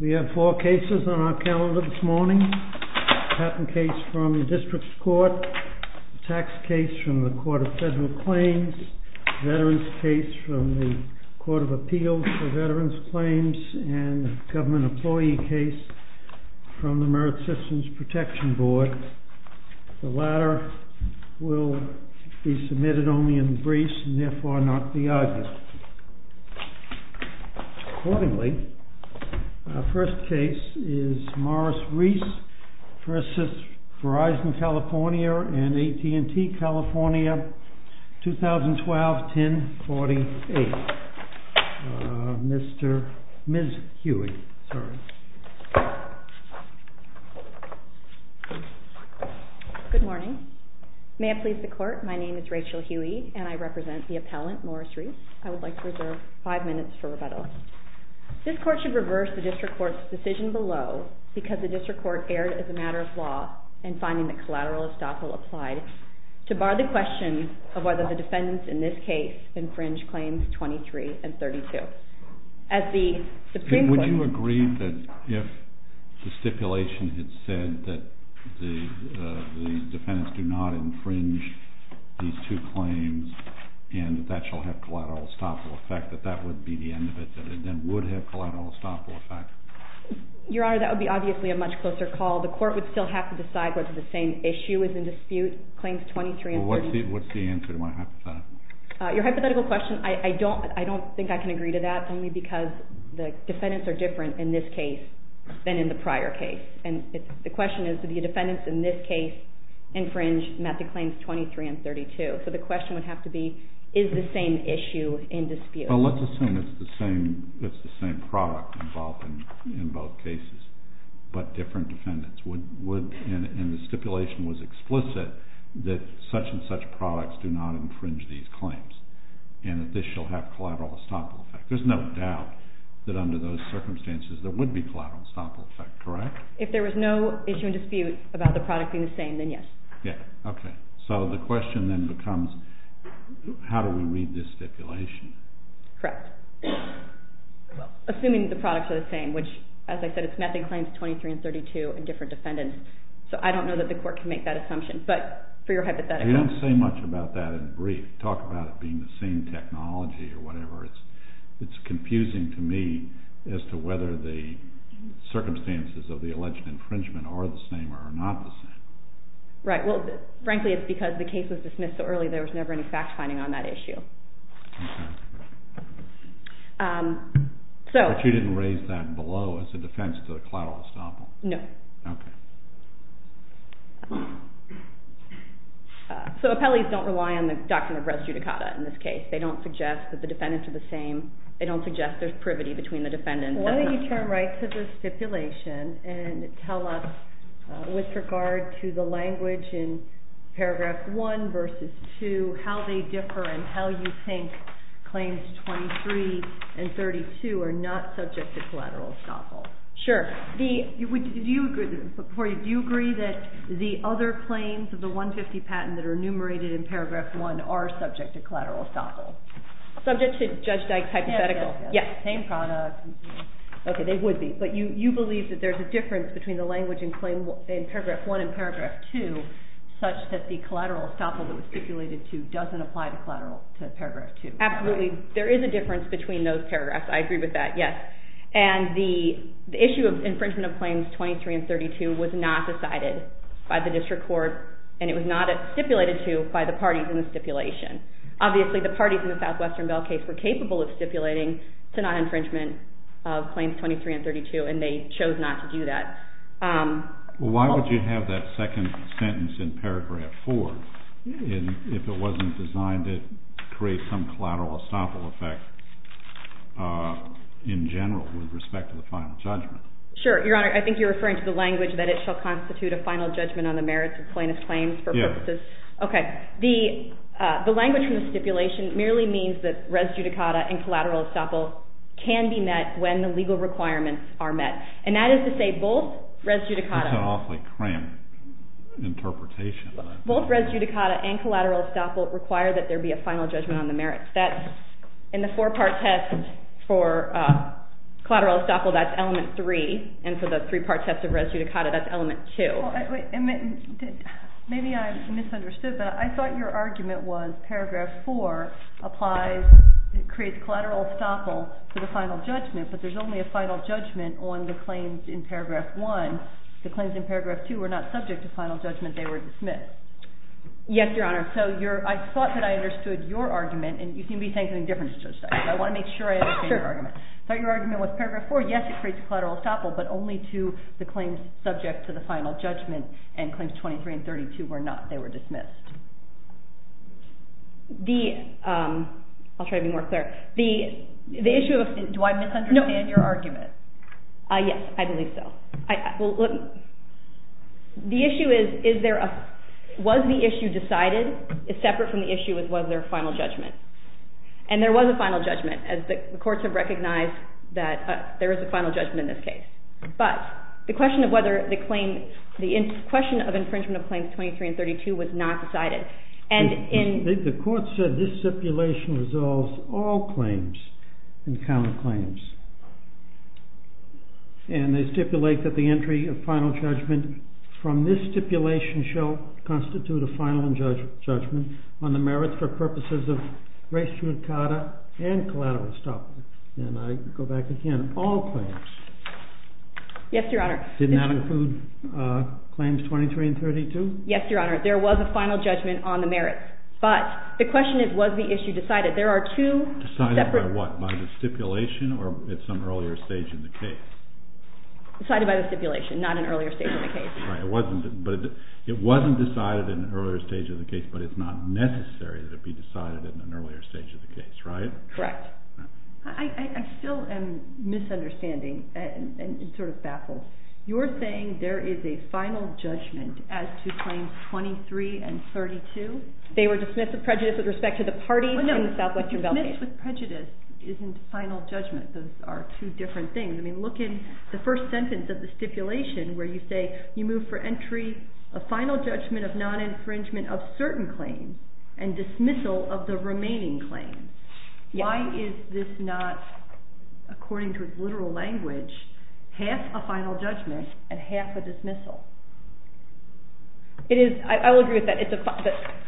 We have four cases on our calendar this morning, patent case from the district's court, tax case from the Court of Federal Claims, veterans case from the Court of Appeals for Veterans Claims, and government employee case from the Merit Systems Protection Board. The latter will be submitted only in the briefs and therefore not the arguments. Accordingly, our first case is Morris Reese v. Verizon California and AT&T California, 2012-10-48. Ms. Huey, sorry. Good morning. May I please the court? My name is Rachel Huey and I represent the appellant, Morris Reese. I would like to reserve five minutes for rebuttal. This court should reverse the district court's decision below because the district court erred as a matter of law in finding that collateral estoppel applied to bar the question of whether the defendants in this case infringe claims 23 and 32. Would you agree that if the stipulation had said that the defendants do not infringe these two claims and that that shall have collateral estoppel effect, that that would be the end of it, that it then would have collateral estoppel effect? Your Honor, that would be obviously a much closer call. The court would still have to decide whether the same issue is in dispute, claims 23 and 32. Well, what's the answer to my hypothetical? Your hypothetical question, I don't think I can agree to that only because the defendants are different in this case than in the prior case. And the question is, do the defendants in this case infringe method claims 23 and 32? So the question would have to be, is the same issue in dispute? Well, let's assume it's the same product involved in both cases, but different defendants. And the stipulation was explicit that such and such products do not infringe these claims and that this shall have collateral estoppel effect. There's no doubt that under those circumstances there would be collateral estoppel effect, correct? If there was no issue in dispute about the product being the same, then yes. Okay. So the question then becomes, how do we read this stipulation? Correct. Assuming the products are the same, which as I said, it's method claims 23 and 32 and different defendants. So I don't know that the court can make that assumption, but for your hypothetical. You don't say much about that in brief. Talk about it being the same technology or whatever. It's confusing to me as to whether the circumstances of the alleged infringement are the same or not the same. Right. Well, frankly, it's because the case was dismissed so early there was never any fact-finding on that issue. Okay. But you didn't raise that below as a defense to the collateral estoppel? No. Okay. So appellees don't rely on the doctrine of res judicata in this case. They don't suggest that the defendants are the same. They don't suggest there's privity between the defendants. Why don't you turn right to the stipulation and tell us, with regard to the language in paragraph 1 versus 2, how they differ and how you think claims 23 and 32 are not subject to collateral estoppel. Sure. Do you agree that the other claims of the 150 patent that are enumerated in paragraph 1 are subject to collateral estoppel? Subject to Judge Dyke's hypothetical. Yes. Same product. Okay. They would be. But you believe that there's a difference between the language in paragraph 1 and paragraph 2 such that the collateral estoppel that was stipulated to doesn't apply to collateral to paragraph 2. Absolutely. There is a difference between those paragraphs. I agree with that. Yes. And the issue of infringement of claims 23 and 32 was not decided by the district court and it was not stipulated to by the parties in the stipulation. Obviously, the parties in the Southwestern Bell case were capable of stipulating to non-infringement of claims 23 and 32 and they chose not to do that. Why would you have that second sentence in paragraph 4 if it wasn't designed to create some collateral estoppel effect in general with respect to the final judgment? Sure. Your Honor, I think you're referring to the language that it shall constitute a final judgment on the merits of plaintiff's claims for purposes. Yes. Okay. The language from the stipulation merely means that res judicata and collateral estoppel can be met when the legal requirements are met. And that is to say both res judicata... That's an awfully cramped interpretation. Both res judicata and collateral estoppel require that there be a final judgment on the merits. That's in the four-part test for collateral estoppel, that's element 3. And for the three-part test of res judicata, that's element 2. Maybe I misunderstood, but I thought your argument was paragraph 4 applies, creates collateral estoppel for the final judgment, but there's only a final judgment on the claims in paragraph 1. The claims in paragraph 2 were not subject to final judgment, they were dismissed. Yes, Your Honor. So I thought that I understood your argument, and you seem to be saying something different to Judge Steinberg. I want to make sure I understand your argument. I thought your argument was paragraph 4, yes, it creates collateral estoppel, but only to the claims subject to the final judgment, and claims 23 and 32 were not. They were dismissed. The... I'll try to be more clear. The issue of... Do I misunderstand your argument? Yes, I believe so. The issue is, was the issue decided? It's separate from the issue of was there a final judgment. And there was a final judgment, as the courts have recognized that there is a final judgment in this case. But the question of whether the claim... the question of infringement of claims 23 and 32 was not decided. The court said this stipulation resolves all claims and counterclaims. And they stipulate that the entry of final judgment from this stipulation shall constitute a final judgment on the merits for purposes of race judicata and collateral estoppel. And I go back again, all claims. Yes, Your Honor. Didn't that include claims 23 and 32? Yes, Your Honor. There was a final judgment on the merits. But the question is, was the issue decided? There are two separate... Decided by what? By the stipulation or at some earlier stage in the case? Decided by the stipulation, not an earlier stage in the case. It wasn't decided in an earlier stage of the case, but it's not necessary that it be decided in an earlier stage of the case, right? Correct. I still am misunderstanding and sort of baffled. You're saying there is a final judgment as to claims 23 and 32? They were dismissed with prejudice with respect to the parties in the Southwestern Valley. No, dismissed with prejudice isn't final judgment. Those are two different things. I mean, look in the first sentence of the stipulation where you say, you move for entry, a final judgment of non-infringement of certain claims, and dismissal of the remaining claims. Why is this not, according to its literal language, half a final judgment and half a dismissal? I will agree with that.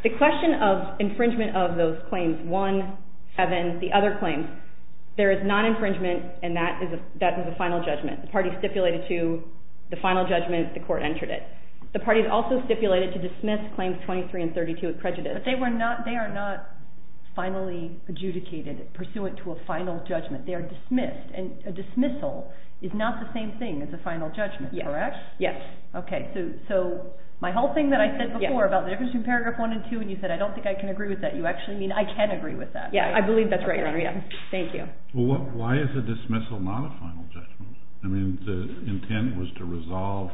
The question of infringement of those claims, one, and then the other claims, there is non-infringement and that is a final judgment. The parties stipulated to the final judgment, the court entered it. The parties also stipulated to dismiss claims 23 and 32 with prejudice. But they are not finally adjudicated pursuant to a final judgment. They are dismissed, and a dismissal is not the same thing as a final judgment, correct? Yes. Okay, so my whole thing that I said before about the difference between paragraph 1 and 2, and you said I don't think I can agree with that, you actually mean I can agree with that. Yes, I believe that's right, Your Honor. Thank you. Why is a dismissal not a final judgment? I mean the intent was to resolve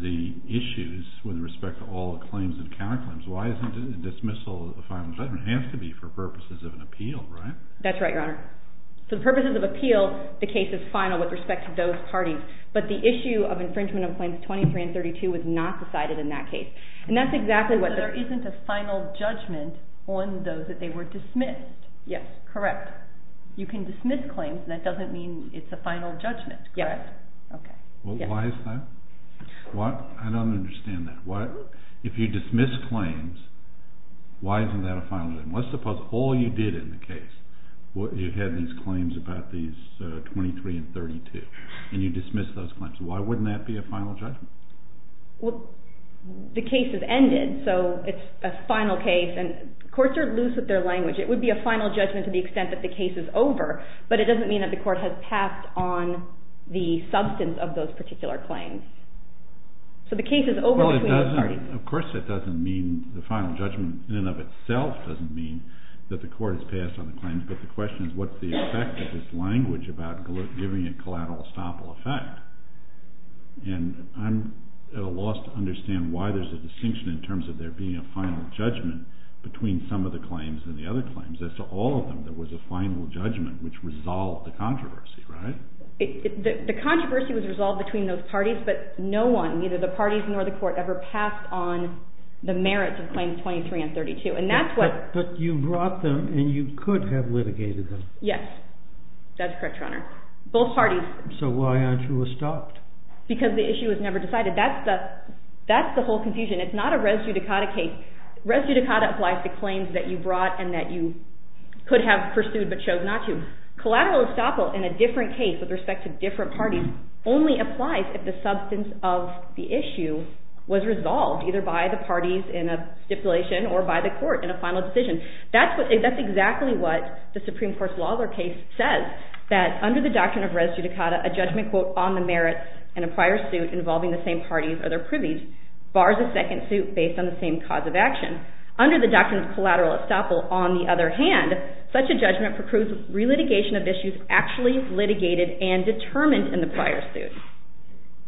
the issues with respect to all the claims and counterclaims. Why isn't a dismissal a final judgment? It has to be for purposes of an appeal, right? That's right, Your Honor. For purposes of appeal, the case is final with respect to those parties. But the issue of infringement of claims 23 and 32 was not decided in that case. And that's exactly what the So there isn't a final judgment on those that they were dismissed? Yes. Correct. You can dismiss claims, and that doesn't mean it's a final judgment, correct? Yes. Okay. Well, why is that? I don't understand that. If you dismiss claims, why isn't that a final judgment? Let's suppose all you did in the case, you had these claims about these 23 and 32, and you dismissed those claims. Why wouldn't that be a final judgment? Well, the case has ended, so it's a final case. And courts are loose with their language. It would be a final judgment to the extent that the case is over, but it doesn't mean that the court has passed on the substance of those particular claims. So the case is over between the parties. Of course it doesn't mean the final judgment in and of itself doesn't mean that the court has passed on the claims, but the question is what's the effect of this language about giving a collateral estoppel effect? And I'm at a loss to understand why there's a distinction in terms of there being a final judgment between some of the claims and the other claims. As to all of them, there was a final judgment which resolved the controversy, right? The controversy was resolved between those parties, but no one, neither the parties nor the court, ever passed on the merits of Claims 23 and 32. But you brought them, and you could have litigated them. Yes. That's correct, Your Honor. Both parties. So why aren't you estopped? Because the issue was never decided. That's the whole confusion. It's not a res judicata case. Res judicata applies to claims that you brought and that you could have pursued but chose not to. Collateral estoppel in a different case with respect to different parties only applies if the substance of the issue was resolved, either by the parties in a stipulation or by the court in a final decision. That's exactly what the Supreme Court's Lawler case says, that under the doctrine of res judicata, a judgment, quote, on the merits in a prior suit involving the same parties or their privies bars a second suit based on the same cause of action. Under the doctrine of collateral estoppel, on the other hand, such a judgment precludes relitigation of issues actually litigated and determined in the prior suit.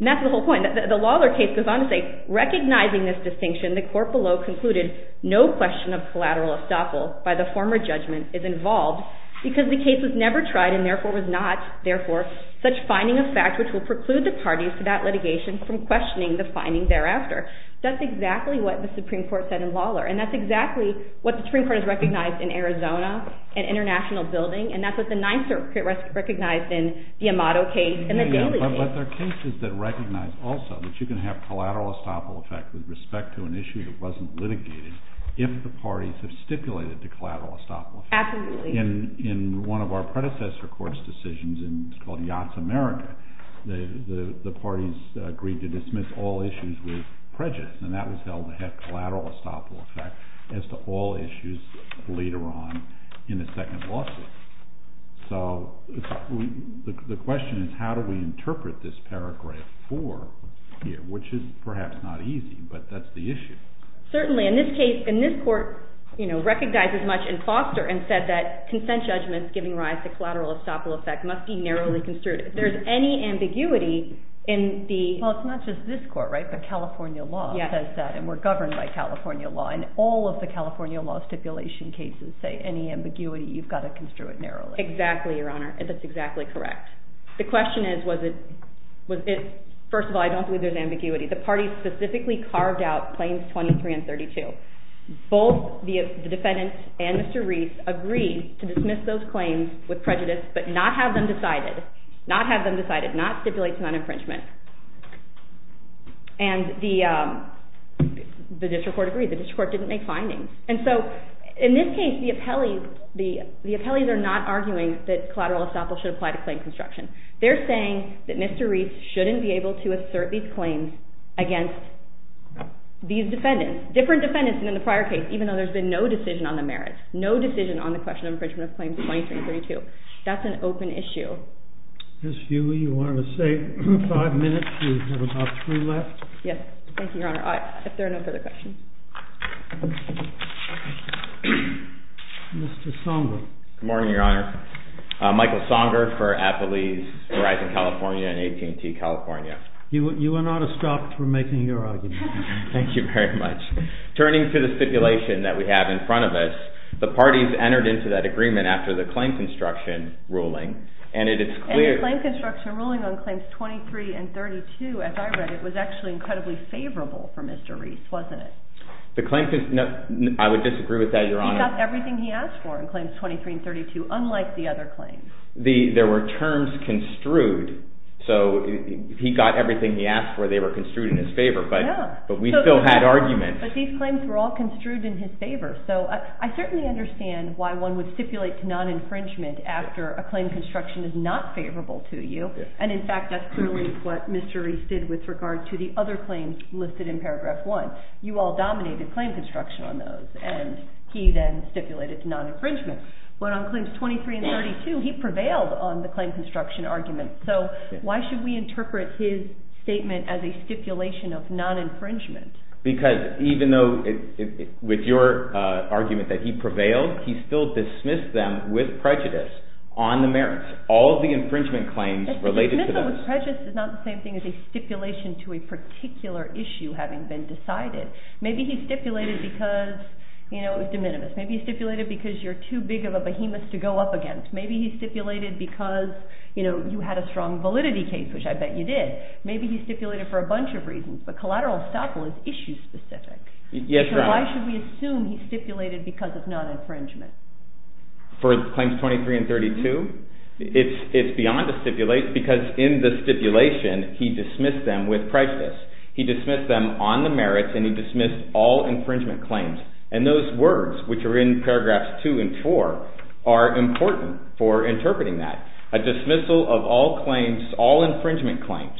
And that's the whole point. The Lawler case goes on to say, recognizing this distinction, the court below concluded no question of collateral estoppel by the former judgment is involved because the case was never tried and therefore was not. Therefore, such finding of fact which will preclude the parties to that litigation from questioning the finding thereafter. That's exactly what the Supreme Court said in Lawler, and that's exactly what the Supreme Court has recognized in Arizona and international building, and that's what the Ninth Circuit recognized in the Amato case and the Daly case. But there are cases that recognize also that you can have collateral estoppel effect with respect to an issue that wasn't litigated if the parties have stipulated the collateral estoppel effect. Absolutely. In one of our predecessor court's decisions, and it's called Yachts America, the parties agreed to dismiss all issues with prejudice, and that was held to have collateral estoppel effect as to all issues later on in the second lawsuit. So the question is how do we interpret this paragraph 4 here, which is perhaps not easy, but that's the issue. Certainly. In this case, in this court, you know, recognizes much in Foster and said that consent judgments giving rise to collateral estoppel effect must be narrowly construed. If there's any ambiguity in the… Well, it's not just this court, right, but California law says that, and we're governed by California law, and all of the California law stipulation cases say that if there's any ambiguity, you've got to construe it narrowly. Exactly, Your Honor. That's exactly correct. The question is was it… First of all, I don't believe there's ambiguity. The parties specifically carved out claims 23 and 32. Both the defendant and Mr. Reese agreed to dismiss those claims with prejudice but not have them decided, not have them decided, not stipulate non-infringement. And the district court agreed. The district court didn't make findings. And so in this case, the appellees are not arguing that collateral estoppel should apply to claim construction. They're saying that Mr. Reese shouldn't be able to assert these claims against these defendants, different defendants than in the prior case, even though there's been no decision on the merits, no decision on the question of infringement of claims 23 and 32. That's an open issue. Ms. Hughley, you wanted to say five minutes? Yes. Thank you, Your Honor. If there are no further questions. Mr. Songer. Good morning, Your Honor. Michael Songer for Appellees Verizon California and AT&T California. You are not a stop for making your argument. Thank you very much. Turning to the stipulation that we have in front of us, the parties entered into that agreement after the claim construction ruling and it is clear… And the claim construction ruling on claims 23 and 32, as I read it, was actually incredibly favorable for Mr. Reese, wasn't it? I would disagree with that, Your Honor. He got everything he asked for in claims 23 and 32, unlike the other claims. There were terms construed. So he got everything he asked for. They were construed in his favor, but we still had arguments. But these claims were all construed in his favor. So I certainly understand why one would stipulate non-infringement after a claim construction is not favorable to you. And, in fact, that's clearly what Mr. Reese did with regard to the other claims listed in paragraph 1. You all dominated claim construction on those, and he then stipulated non-infringement. But on claims 23 and 32, he prevailed on the claim construction argument. So why should we interpret his statement as a stipulation of non-infringement? Because even though with your argument that he prevailed, he still dismissed them with prejudice on the merits. He dismissed all of the infringement claims related to those. But dismissal with prejudice is not the same thing as a stipulation to a particular issue having been decided. Maybe he stipulated because it was de minimis. Maybe he stipulated because you're too big of a behemoth to go up against. Maybe he stipulated because you had a strong validity case, which I bet you did. Maybe he stipulated for a bunch of reasons, but collateral estoppel is issue-specific. Yes, Your Honor. So why should we assume he stipulated because of non-infringement? For claims 23 and 32? It's beyond a stipulation because in the stipulation, he dismissed them with prejudice. He dismissed them on the merits, and he dismissed all infringement claims. And those words, which are in paragraphs 2 and 4, are important for interpreting that. A dismissal of all claims, all infringement claims.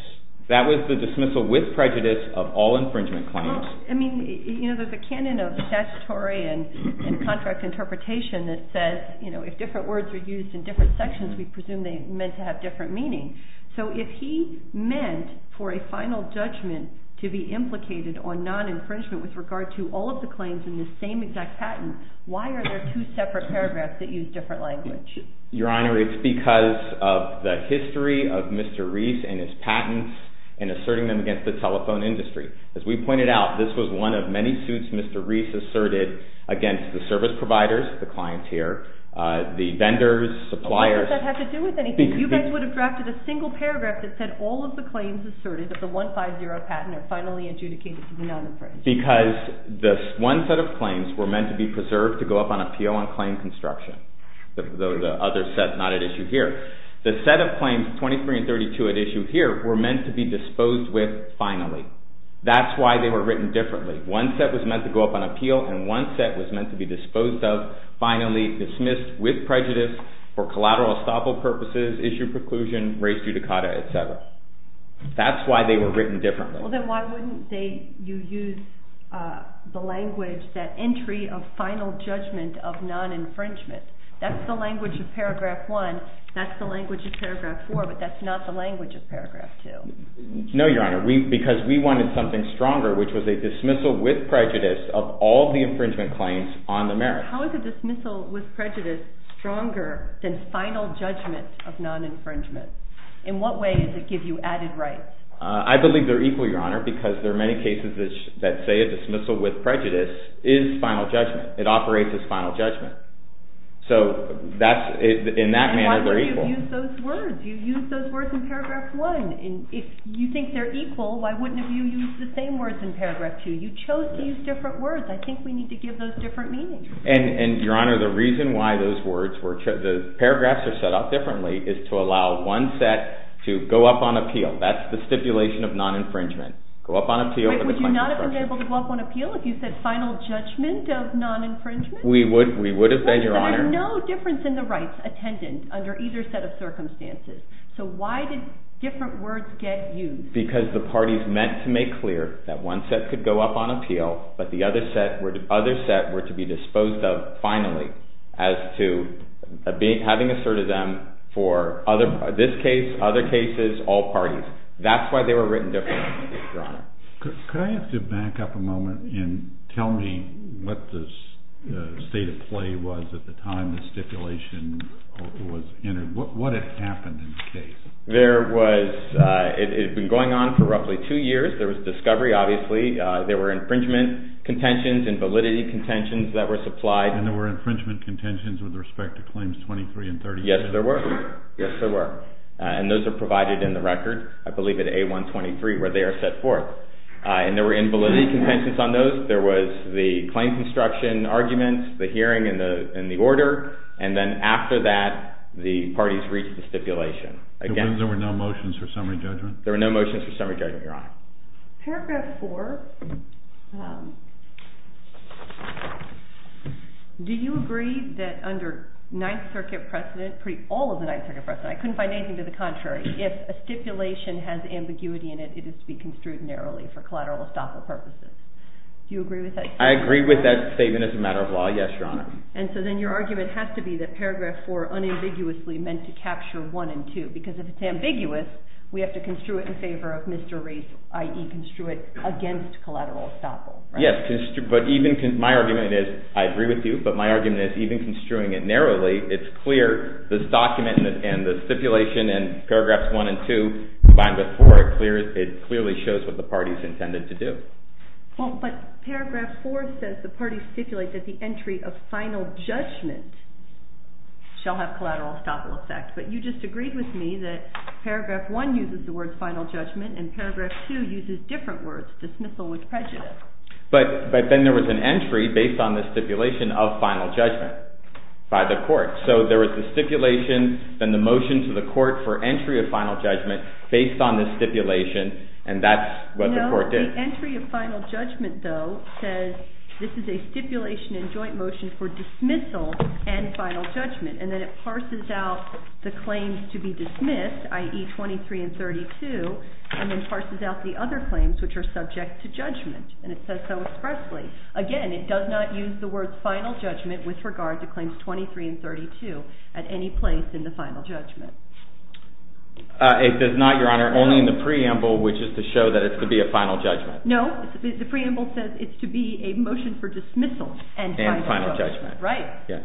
That was the dismissal with prejudice of all infringement claims. Well, I mean, you know, there's a canon of statutory and contract interpretation that says, you know, if different words are used in different sections, we presume they're meant to have different meaning. So if he meant for a final judgment to be implicated on non-infringement with regard to all of the claims in the same exact patent, why are there two separate paragraphs that use different language? Your Honor, it's because of the history of Mr. Reese and his patents and asserting them against the telephone industry. As we pointed out, this was one of many suits Mr. Reese asserted against the service providers, the clienteer, the vendors, suppliers. Why does that have to do with anything? You guys would have drafted a single paragraph that said all of the claims asserted of the 150 patent are finally adjudicated to be non-infringed. Because this one set of claims were meant to be preserved to go up on appeal on claim construction. The other set not at issue here. The set of claims, 23 and 32 at issue here, were meant to be disposed with finally. That's why they were written differently. One set was meant to go up on appeal and one set was meant to be disposed of finally, dismissed with prejudice, for collateral estoppel purposes, issue preclusion, raise judicata, etc. That's why they were written differently. Then why wouldn't you use the language, that entry of final judgment of non-infringement? That's the language of Paragraph 1, that's the language of Paragraph 4, but that's not the language of Paragraph 2. No, Your Honor, because we wanted something stronger, which was a dismissal with prejudice of all the infringement claims on the merits. How is a dismissal with prejudice stronger than final judgment of non-infringement? In what way does it give you added rights? I believe they're equal, Your Honor, because there are many cases that say a dismissal with prejudice is final judgment. It operates as final judgment, so in that manner they're equal. Why wouldn't you use those words? You used those words in Paragraph 1. If you think they're equal, why wouldn't you use the same words in Paragraph 2? You chose to use different words. I think we need to give those different meanings. Your Honor, the reason why the paragraphs are set up differently is to allow one set to go up on appeal. That's the stipulation of non-infringement. Would you not have been able to go up on appeal if you said final judgment of non-infringement? We would have been, Your Honor. There's no difference in the rights attendant under either set of circumstances. So why did different words get used? Because the parties meant to make clear that one set could go up on appeal, but the other set were to be disposed of finally as to having asserted them for this case, other cases, all parties. That's why they were written differently, Your Honor. Could I ask you to back up a moment and tell me what the state of play was at the time the stipulation was entered? What had happened in the case? It had been going on for roughly two years. There was discovery, obviously. There were infringement contentions and validity contentions that were supplied. And there were infringement contentions with respect to Claims 23 and 32. Yes, there were. Yes, there were. And those are provided in the record, I believe, at A123, where they are set forth. And there were invalidity contentions on those. There was the claim construction arguments, the hearing, and the order. And then after that, the parties reached the stipulation. There were no motions for summary judgment? There were no motions for summary judgment, Your Honor. Paragraph 4, do you agree that under Ninth Circuit precedent, all of the Ninth Circuit precedent, I couldn't find anything to the contrary, if a stipulation has ambiguity in it, it is to be construed narrowly for collateral estoppel purposes? Do you agree with that? I agree with that statement as a matter of law, yes, Your Honor. And so then your argument has to be that Paragraph 4 unambiguously meant to capture 1 and 2. Because if it's ambiguous, we have to construe it in favor of Mr. Reese, i.e., construe it against collateral estoppel, right? Yes, but my argument is, I agree with you, but my argument is, even construing it narrowly, it's clear this document and the stipulation in Paragraphs 1 and 2 combined with 4, it clearly shows what the parties intended to do. Well, but Paragraph 4 says the parties stipulate that the entry of final judgment shall have collateral estoppel effect. But you just agreed with me that Paragraph 1 uses the word final judgment and Paragraph 2 uses different words, dismissal with prejudice. But then there was an entry based on the stipulation of final judgment by the court. So there was the stipulation, then the motion to the court for entry of final judgment based on this stipulation, and that's what the court did. No, the entry of final judgment, though, says this is a stipulation in joint motion for dismissal and final judgment. And then it parses out the claims to be dismissed, i.e., 23 and 32, and then parses out the other claims which are subject to judgment, and it says so expressly. Again, it does not use the words final judgment with regard to claims 23 and 32 at any place in the final judgment. It does not, Your Honor, only in the preamble, which is to show that it's to be a final judgment. No, the preamble says it's to be a motion for dismissal and final judgment, right? Yes.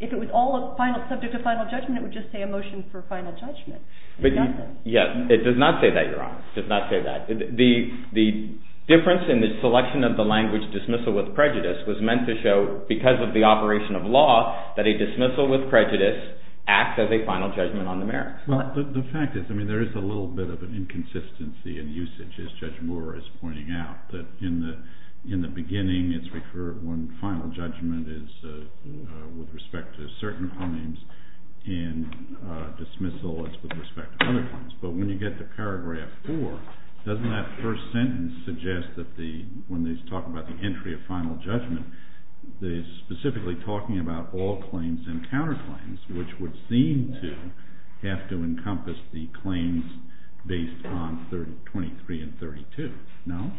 If it was all subject to final judgment, it would just say a motion for final judgment. Yes, it does not say that, Your Honor. It does not say that. The difference in the selection of the language dismissal with prejudice was meant to show, because of the operation of law, that a dismissal with prejudice acts as a final judgment on the merits. Well, the fact is, I mean, there is a little bit of an inconsistency in usage, as Judge Moore is pointing out, that in the beginning it's referred when final judgment is with respect to certain claims, and dismissal is with respect to other claims. But when you get to paragraph 4, doesn't that first sentence suggest that when they talk about the entry of final judgment, they're specifically talking about all claims and counterclaims, which would seem to have to encompass the claims based on 23 and 32, no?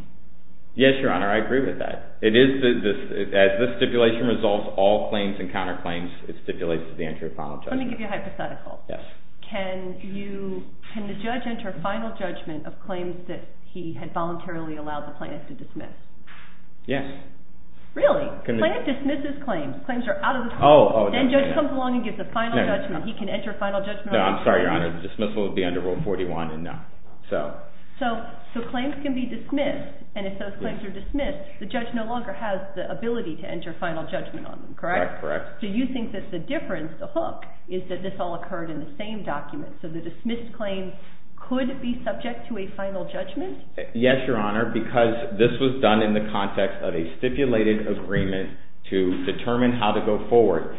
Yes, Your Honor, I agree with that. As this stipulation resolves all claims and counterclaims, it stipulates the entry of final judgment. Let me give you a hypothetical. Yes. Can the judge enter final judgment of claims that he had voluntarily allowed the plaintiff to dismiss? Yes. Really? The plaintiff dismisses claims. Claims are out of the court. Then the judge comes along and gives a final judgment. He can enter final judgment on them? No, I'm sorry, Your Honor. The dismissal would be under Rule 41 and no. So claims can be dismissed, and if those claims are dismissed, the judge no longer has the ability to enter final judgment on them, correct? Correct, correct. Do you think that the difference, the hook, is that this all occurred in the same document? So the dismissed claims could be subject to a final judgment? Yes, Your Honor, because this was done in the context of a stipulated agreement to determine how to go forward.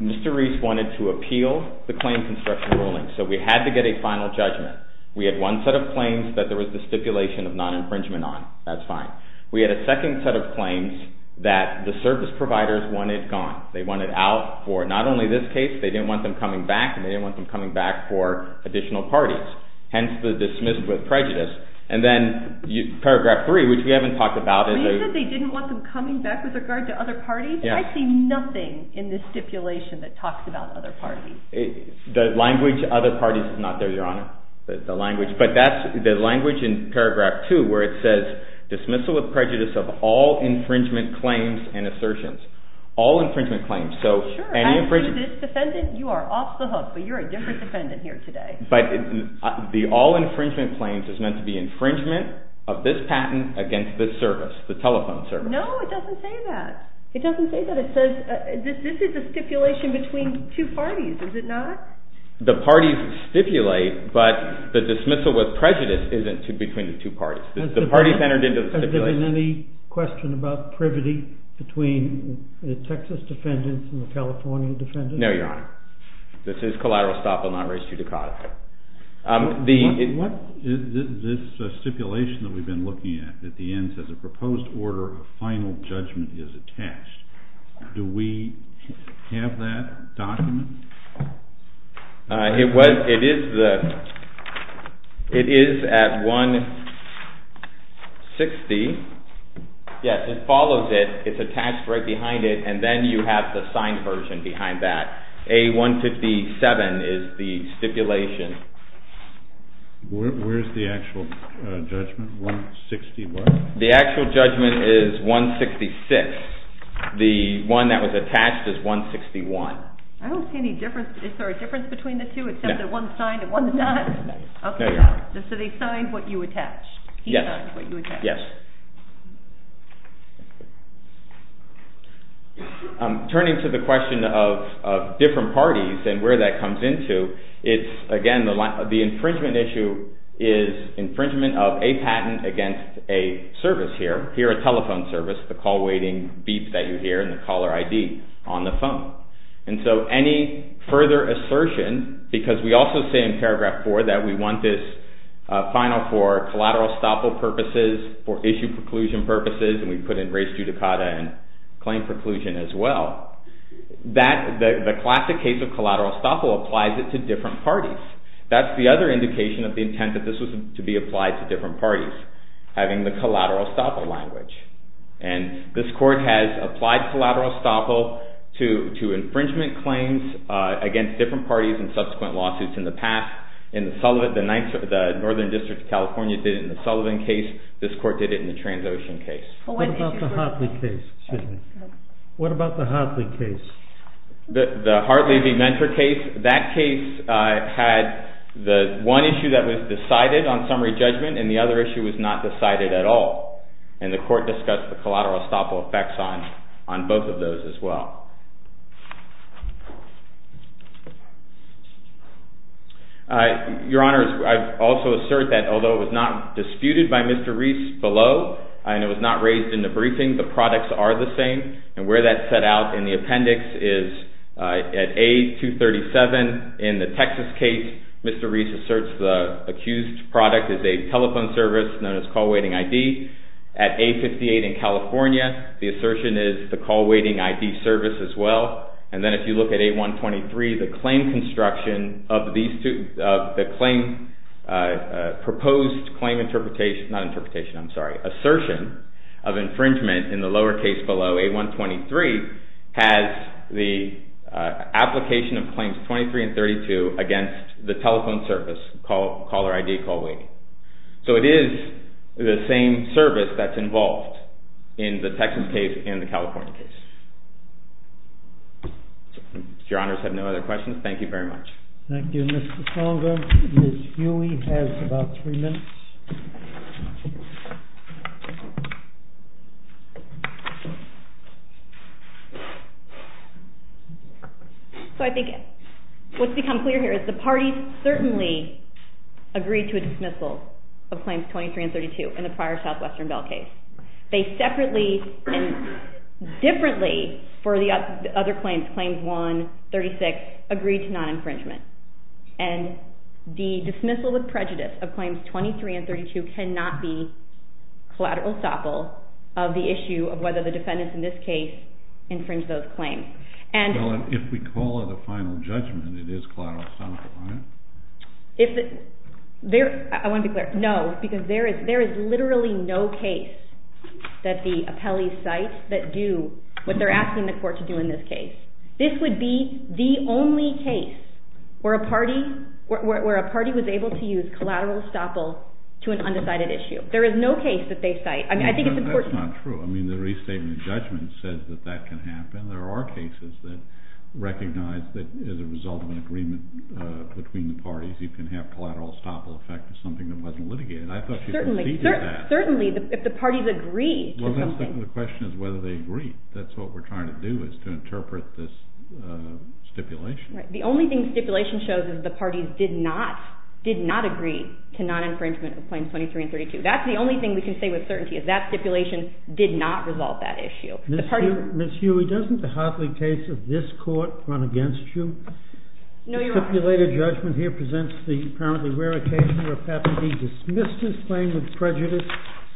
Mr. Reese wanted to appeal the claim construction ruling, so we had to get a final judgment. We had one set of claims that there was the stipulation of non-infringement on. That's fine. We had a second set of claims that the service providers wanted gone. They wanted out for not only this case. They didn't want them coming back, and they didn't want them coming back for additional parties. Hence, the dismissed with prejudice. And then Paragraph 3, which we haven't talked about. You said they didn't want them coming back with regard to other parties? I see nothing in this stipulation that talks about other parties. The language other parties is not there, Your Honor. But that's the language in Paragraph 2 where it says, dismissal with prejudice of all infringement claims and assertions. All infringement claims, so any infringement. You are off the hook, but you're a different defendant here today. But the all infringement claims is meant to be infringement of this patent against this service, the telephone service. No, it doesn't say that. It doesn't say that. It says this is a stipulation between two parties, is it not? The parties stipulate, but the dismissal with prejudice isn't between the two parties. The parties entered into the stipulation. Has there been any question about privity between the Texas defendants and the California defendants? No, Your Honor. This is collateral stop, will not raise you to cause. What is this stipulation that we've been looking at? At the end it says, a proposed order of final judgment is attached. Do we have that document? It is at 160. Yes, it follows it. It's attached right behind it, and then you have the signed version behind that. A-157 is the stipulation. Where is the actual judgment, 161? The actual judgment is 166. The one that was attached is 161. I don't see any difference. Is there a difference between the two, except that one's signed and one's not? No, Your Honor. So they signed what you attached. He signed what you attached. Yes. Turning to the question of different parties and where that comes into, it's, again, the infringement issue is infringement of a patent against a service here, here a telephone service, the call waiting beep that you hear and the caller ID on the phone. And so any further assertion, because we also say in Paragraph 4 that we want this final for collateral estoppel purposes, for issue preclusion purposes, and we put in race judicata and claim preclusion as well, that the classic case of collateral estoppel applies it to different parties. That's the other indication of the intent that this was to be applied to different parties, having the collateral estoppel language. And this Court has applied collateral estoppel to infringement claims against different parties and subsequent lawsuits in the past. In the Sullivan, the Northern District of California did it in the Sullivan case. This Court did it in the Transocean case. What about the Hartley case? The Hartley v. Mentor case, that case had the one issue that was decided on summary judgment and the other issue was not decided at all. And the Court discussed the collateral estoppel effects on both of those as well. Your Honors, I also assert that although it was not disputed by Mr. Reese below and it was not raised in the briefing, the products are the same. And where that's set out in the appendix is at A237 in the Texas case, Mr. Reese asserts the accused product is a telephone service known as call waiting ID. At A58 in California, the assertion is the call waiting ID service as well. And then if you look at A123, the claim construction of these two, the proposed assertion of infringement in the lower case below, A123, has the application of Claims 23 and 32 against the telephone service caller ID call waiting. So it is the same service that's involved in the Texas case and the California case. Your Honors have no other questions? Thank you very much. Thank you, Mr. Conger. Ms. Huey has about three minutes. So I think what's become clear here is the parties certainly agreed to a dismissal of Claims 23 and 32 in the prior Southwestern Bell case. They separately and differently for the other claims, Claims 1, 36, agreed to non-infringement. And the dismissal with prejudice of Claims 23 and 32 cannot be collateral estoppel of the issue of whether the defendants in this case infringed those claims. Well, if we call it a final judgment, it is collateral estoppel, right? I want to be clear. No, because there is literally no case that the appellee cites that do what they're asking the court to do in this case. This would be the only case where a party was able to use collateral estoppel to an undecided issue. There is no case that they cite. I mean, I think it's important. That's not true. I mean, the restatement judgment says that that can happen. There are cases that recognize that as a result of an agreement between the parties, you can have collateral estoppel effect of something that wasn't litigated. I thought you said that. Certainly, if the parties agreed to something. Well, the question is whether they agreed. That's what we're trying to do is to interpret this stipulation. The only thing stipulation shows is the parties did not agree to non-infringement of Claims 23 and 32. That's the only thing we can say with certainty is that stipulation did not resolve that issue. Ms. Huey, doesn't the Hartley case of this court run against you? No, Your Honor. The stipulated judgment here presents the apparently rare occasion where an appellee dismissed his claim with prejudice.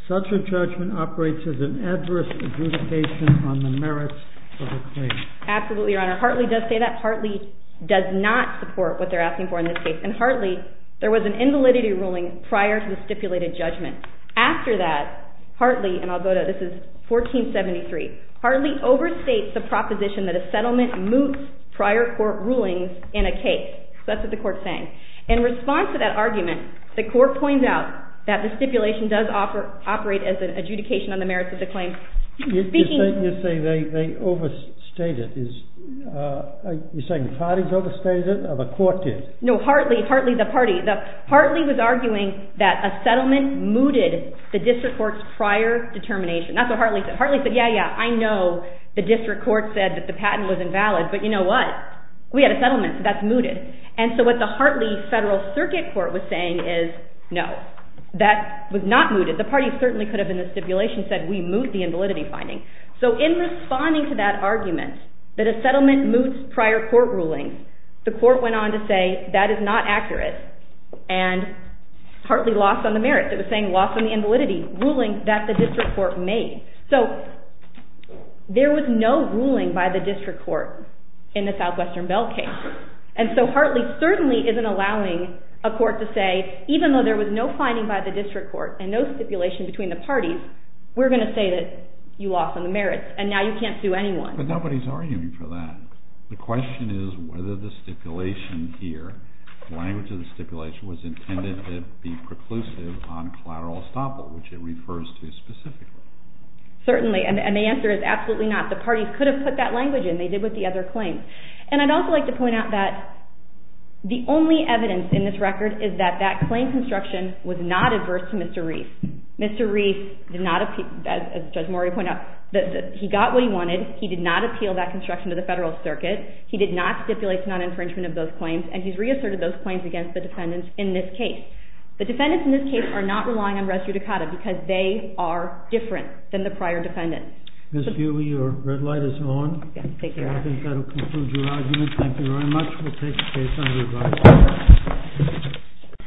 Such a judgment operates as an adverse adjudication on the merits of the claim. Absolutely, Your Honor. Hartley does say that. Hartley does not support what they're asking for in this case. And Hartley, there was an invalidity ruling prior to the stipulated judgment. After that, Hartley, and I'll go to, this is 1473. Hartley overstates the proposition that a settlement moves prior court rulings in a case. That's what the court's saying. In response to that argument, the court points out that the stipulation does operate as an adjudication on the merits of the claim. You're saying they overstated it. You're saying the parties overstated it or the court did? No, Hartley. Hartley, the party. Hartley was arguing that a settlement mooted the district court's prior determination. That's what Hartley said. Hartley said, yeah, yeah, I know the district court said that the patent was invalid, but you know what? We had a settlement. That's mooted. And so what the Hartley Federal Circuit Court was saying is no. That was not mooted. The party certainly could have, in the stipulation, said we moot the invalidity finding. So in responding to that argument that a settlement moots prior court rulings, the court went on to say that is not accurate. And Hartley lost on the merits. It was saying loss on the invalidity ruling that the district court made. So there was no ruling by the district court in the Southwestern Bell case. And so Hartley certainly isn't allowing a court to say, even though there was no finding by the district court and no stipulation between the parties, we're going to say that you lost on the merits, and now you can't sue anyone. But nobody's arguing for that. The question is whether the stipulation here, the language of the stipulation, was intended to be preclusive on collateral estoppel, which it refers to specifically. Certainly, and the answer is absolutely not. The parties could have put that language in. They did with the other claims. And I'd also like to point out that the only evidence in this record is that that claim construction was not adverse to Mr. Reif. Mr. Reif did not, as Judge Mori pointed out, he got what he wanted. He did not appeal that construction to the federal circuit. He did not stipulate non-infringement of those claims. And he's reasserted those claims against the defendants in this case. The defendants in this case are not relying on res judicata because they are different than the prior defendants. Ms. Buehle, your red light is on. I think that will conclude your argument. Thank you very much. We'll take the case under review.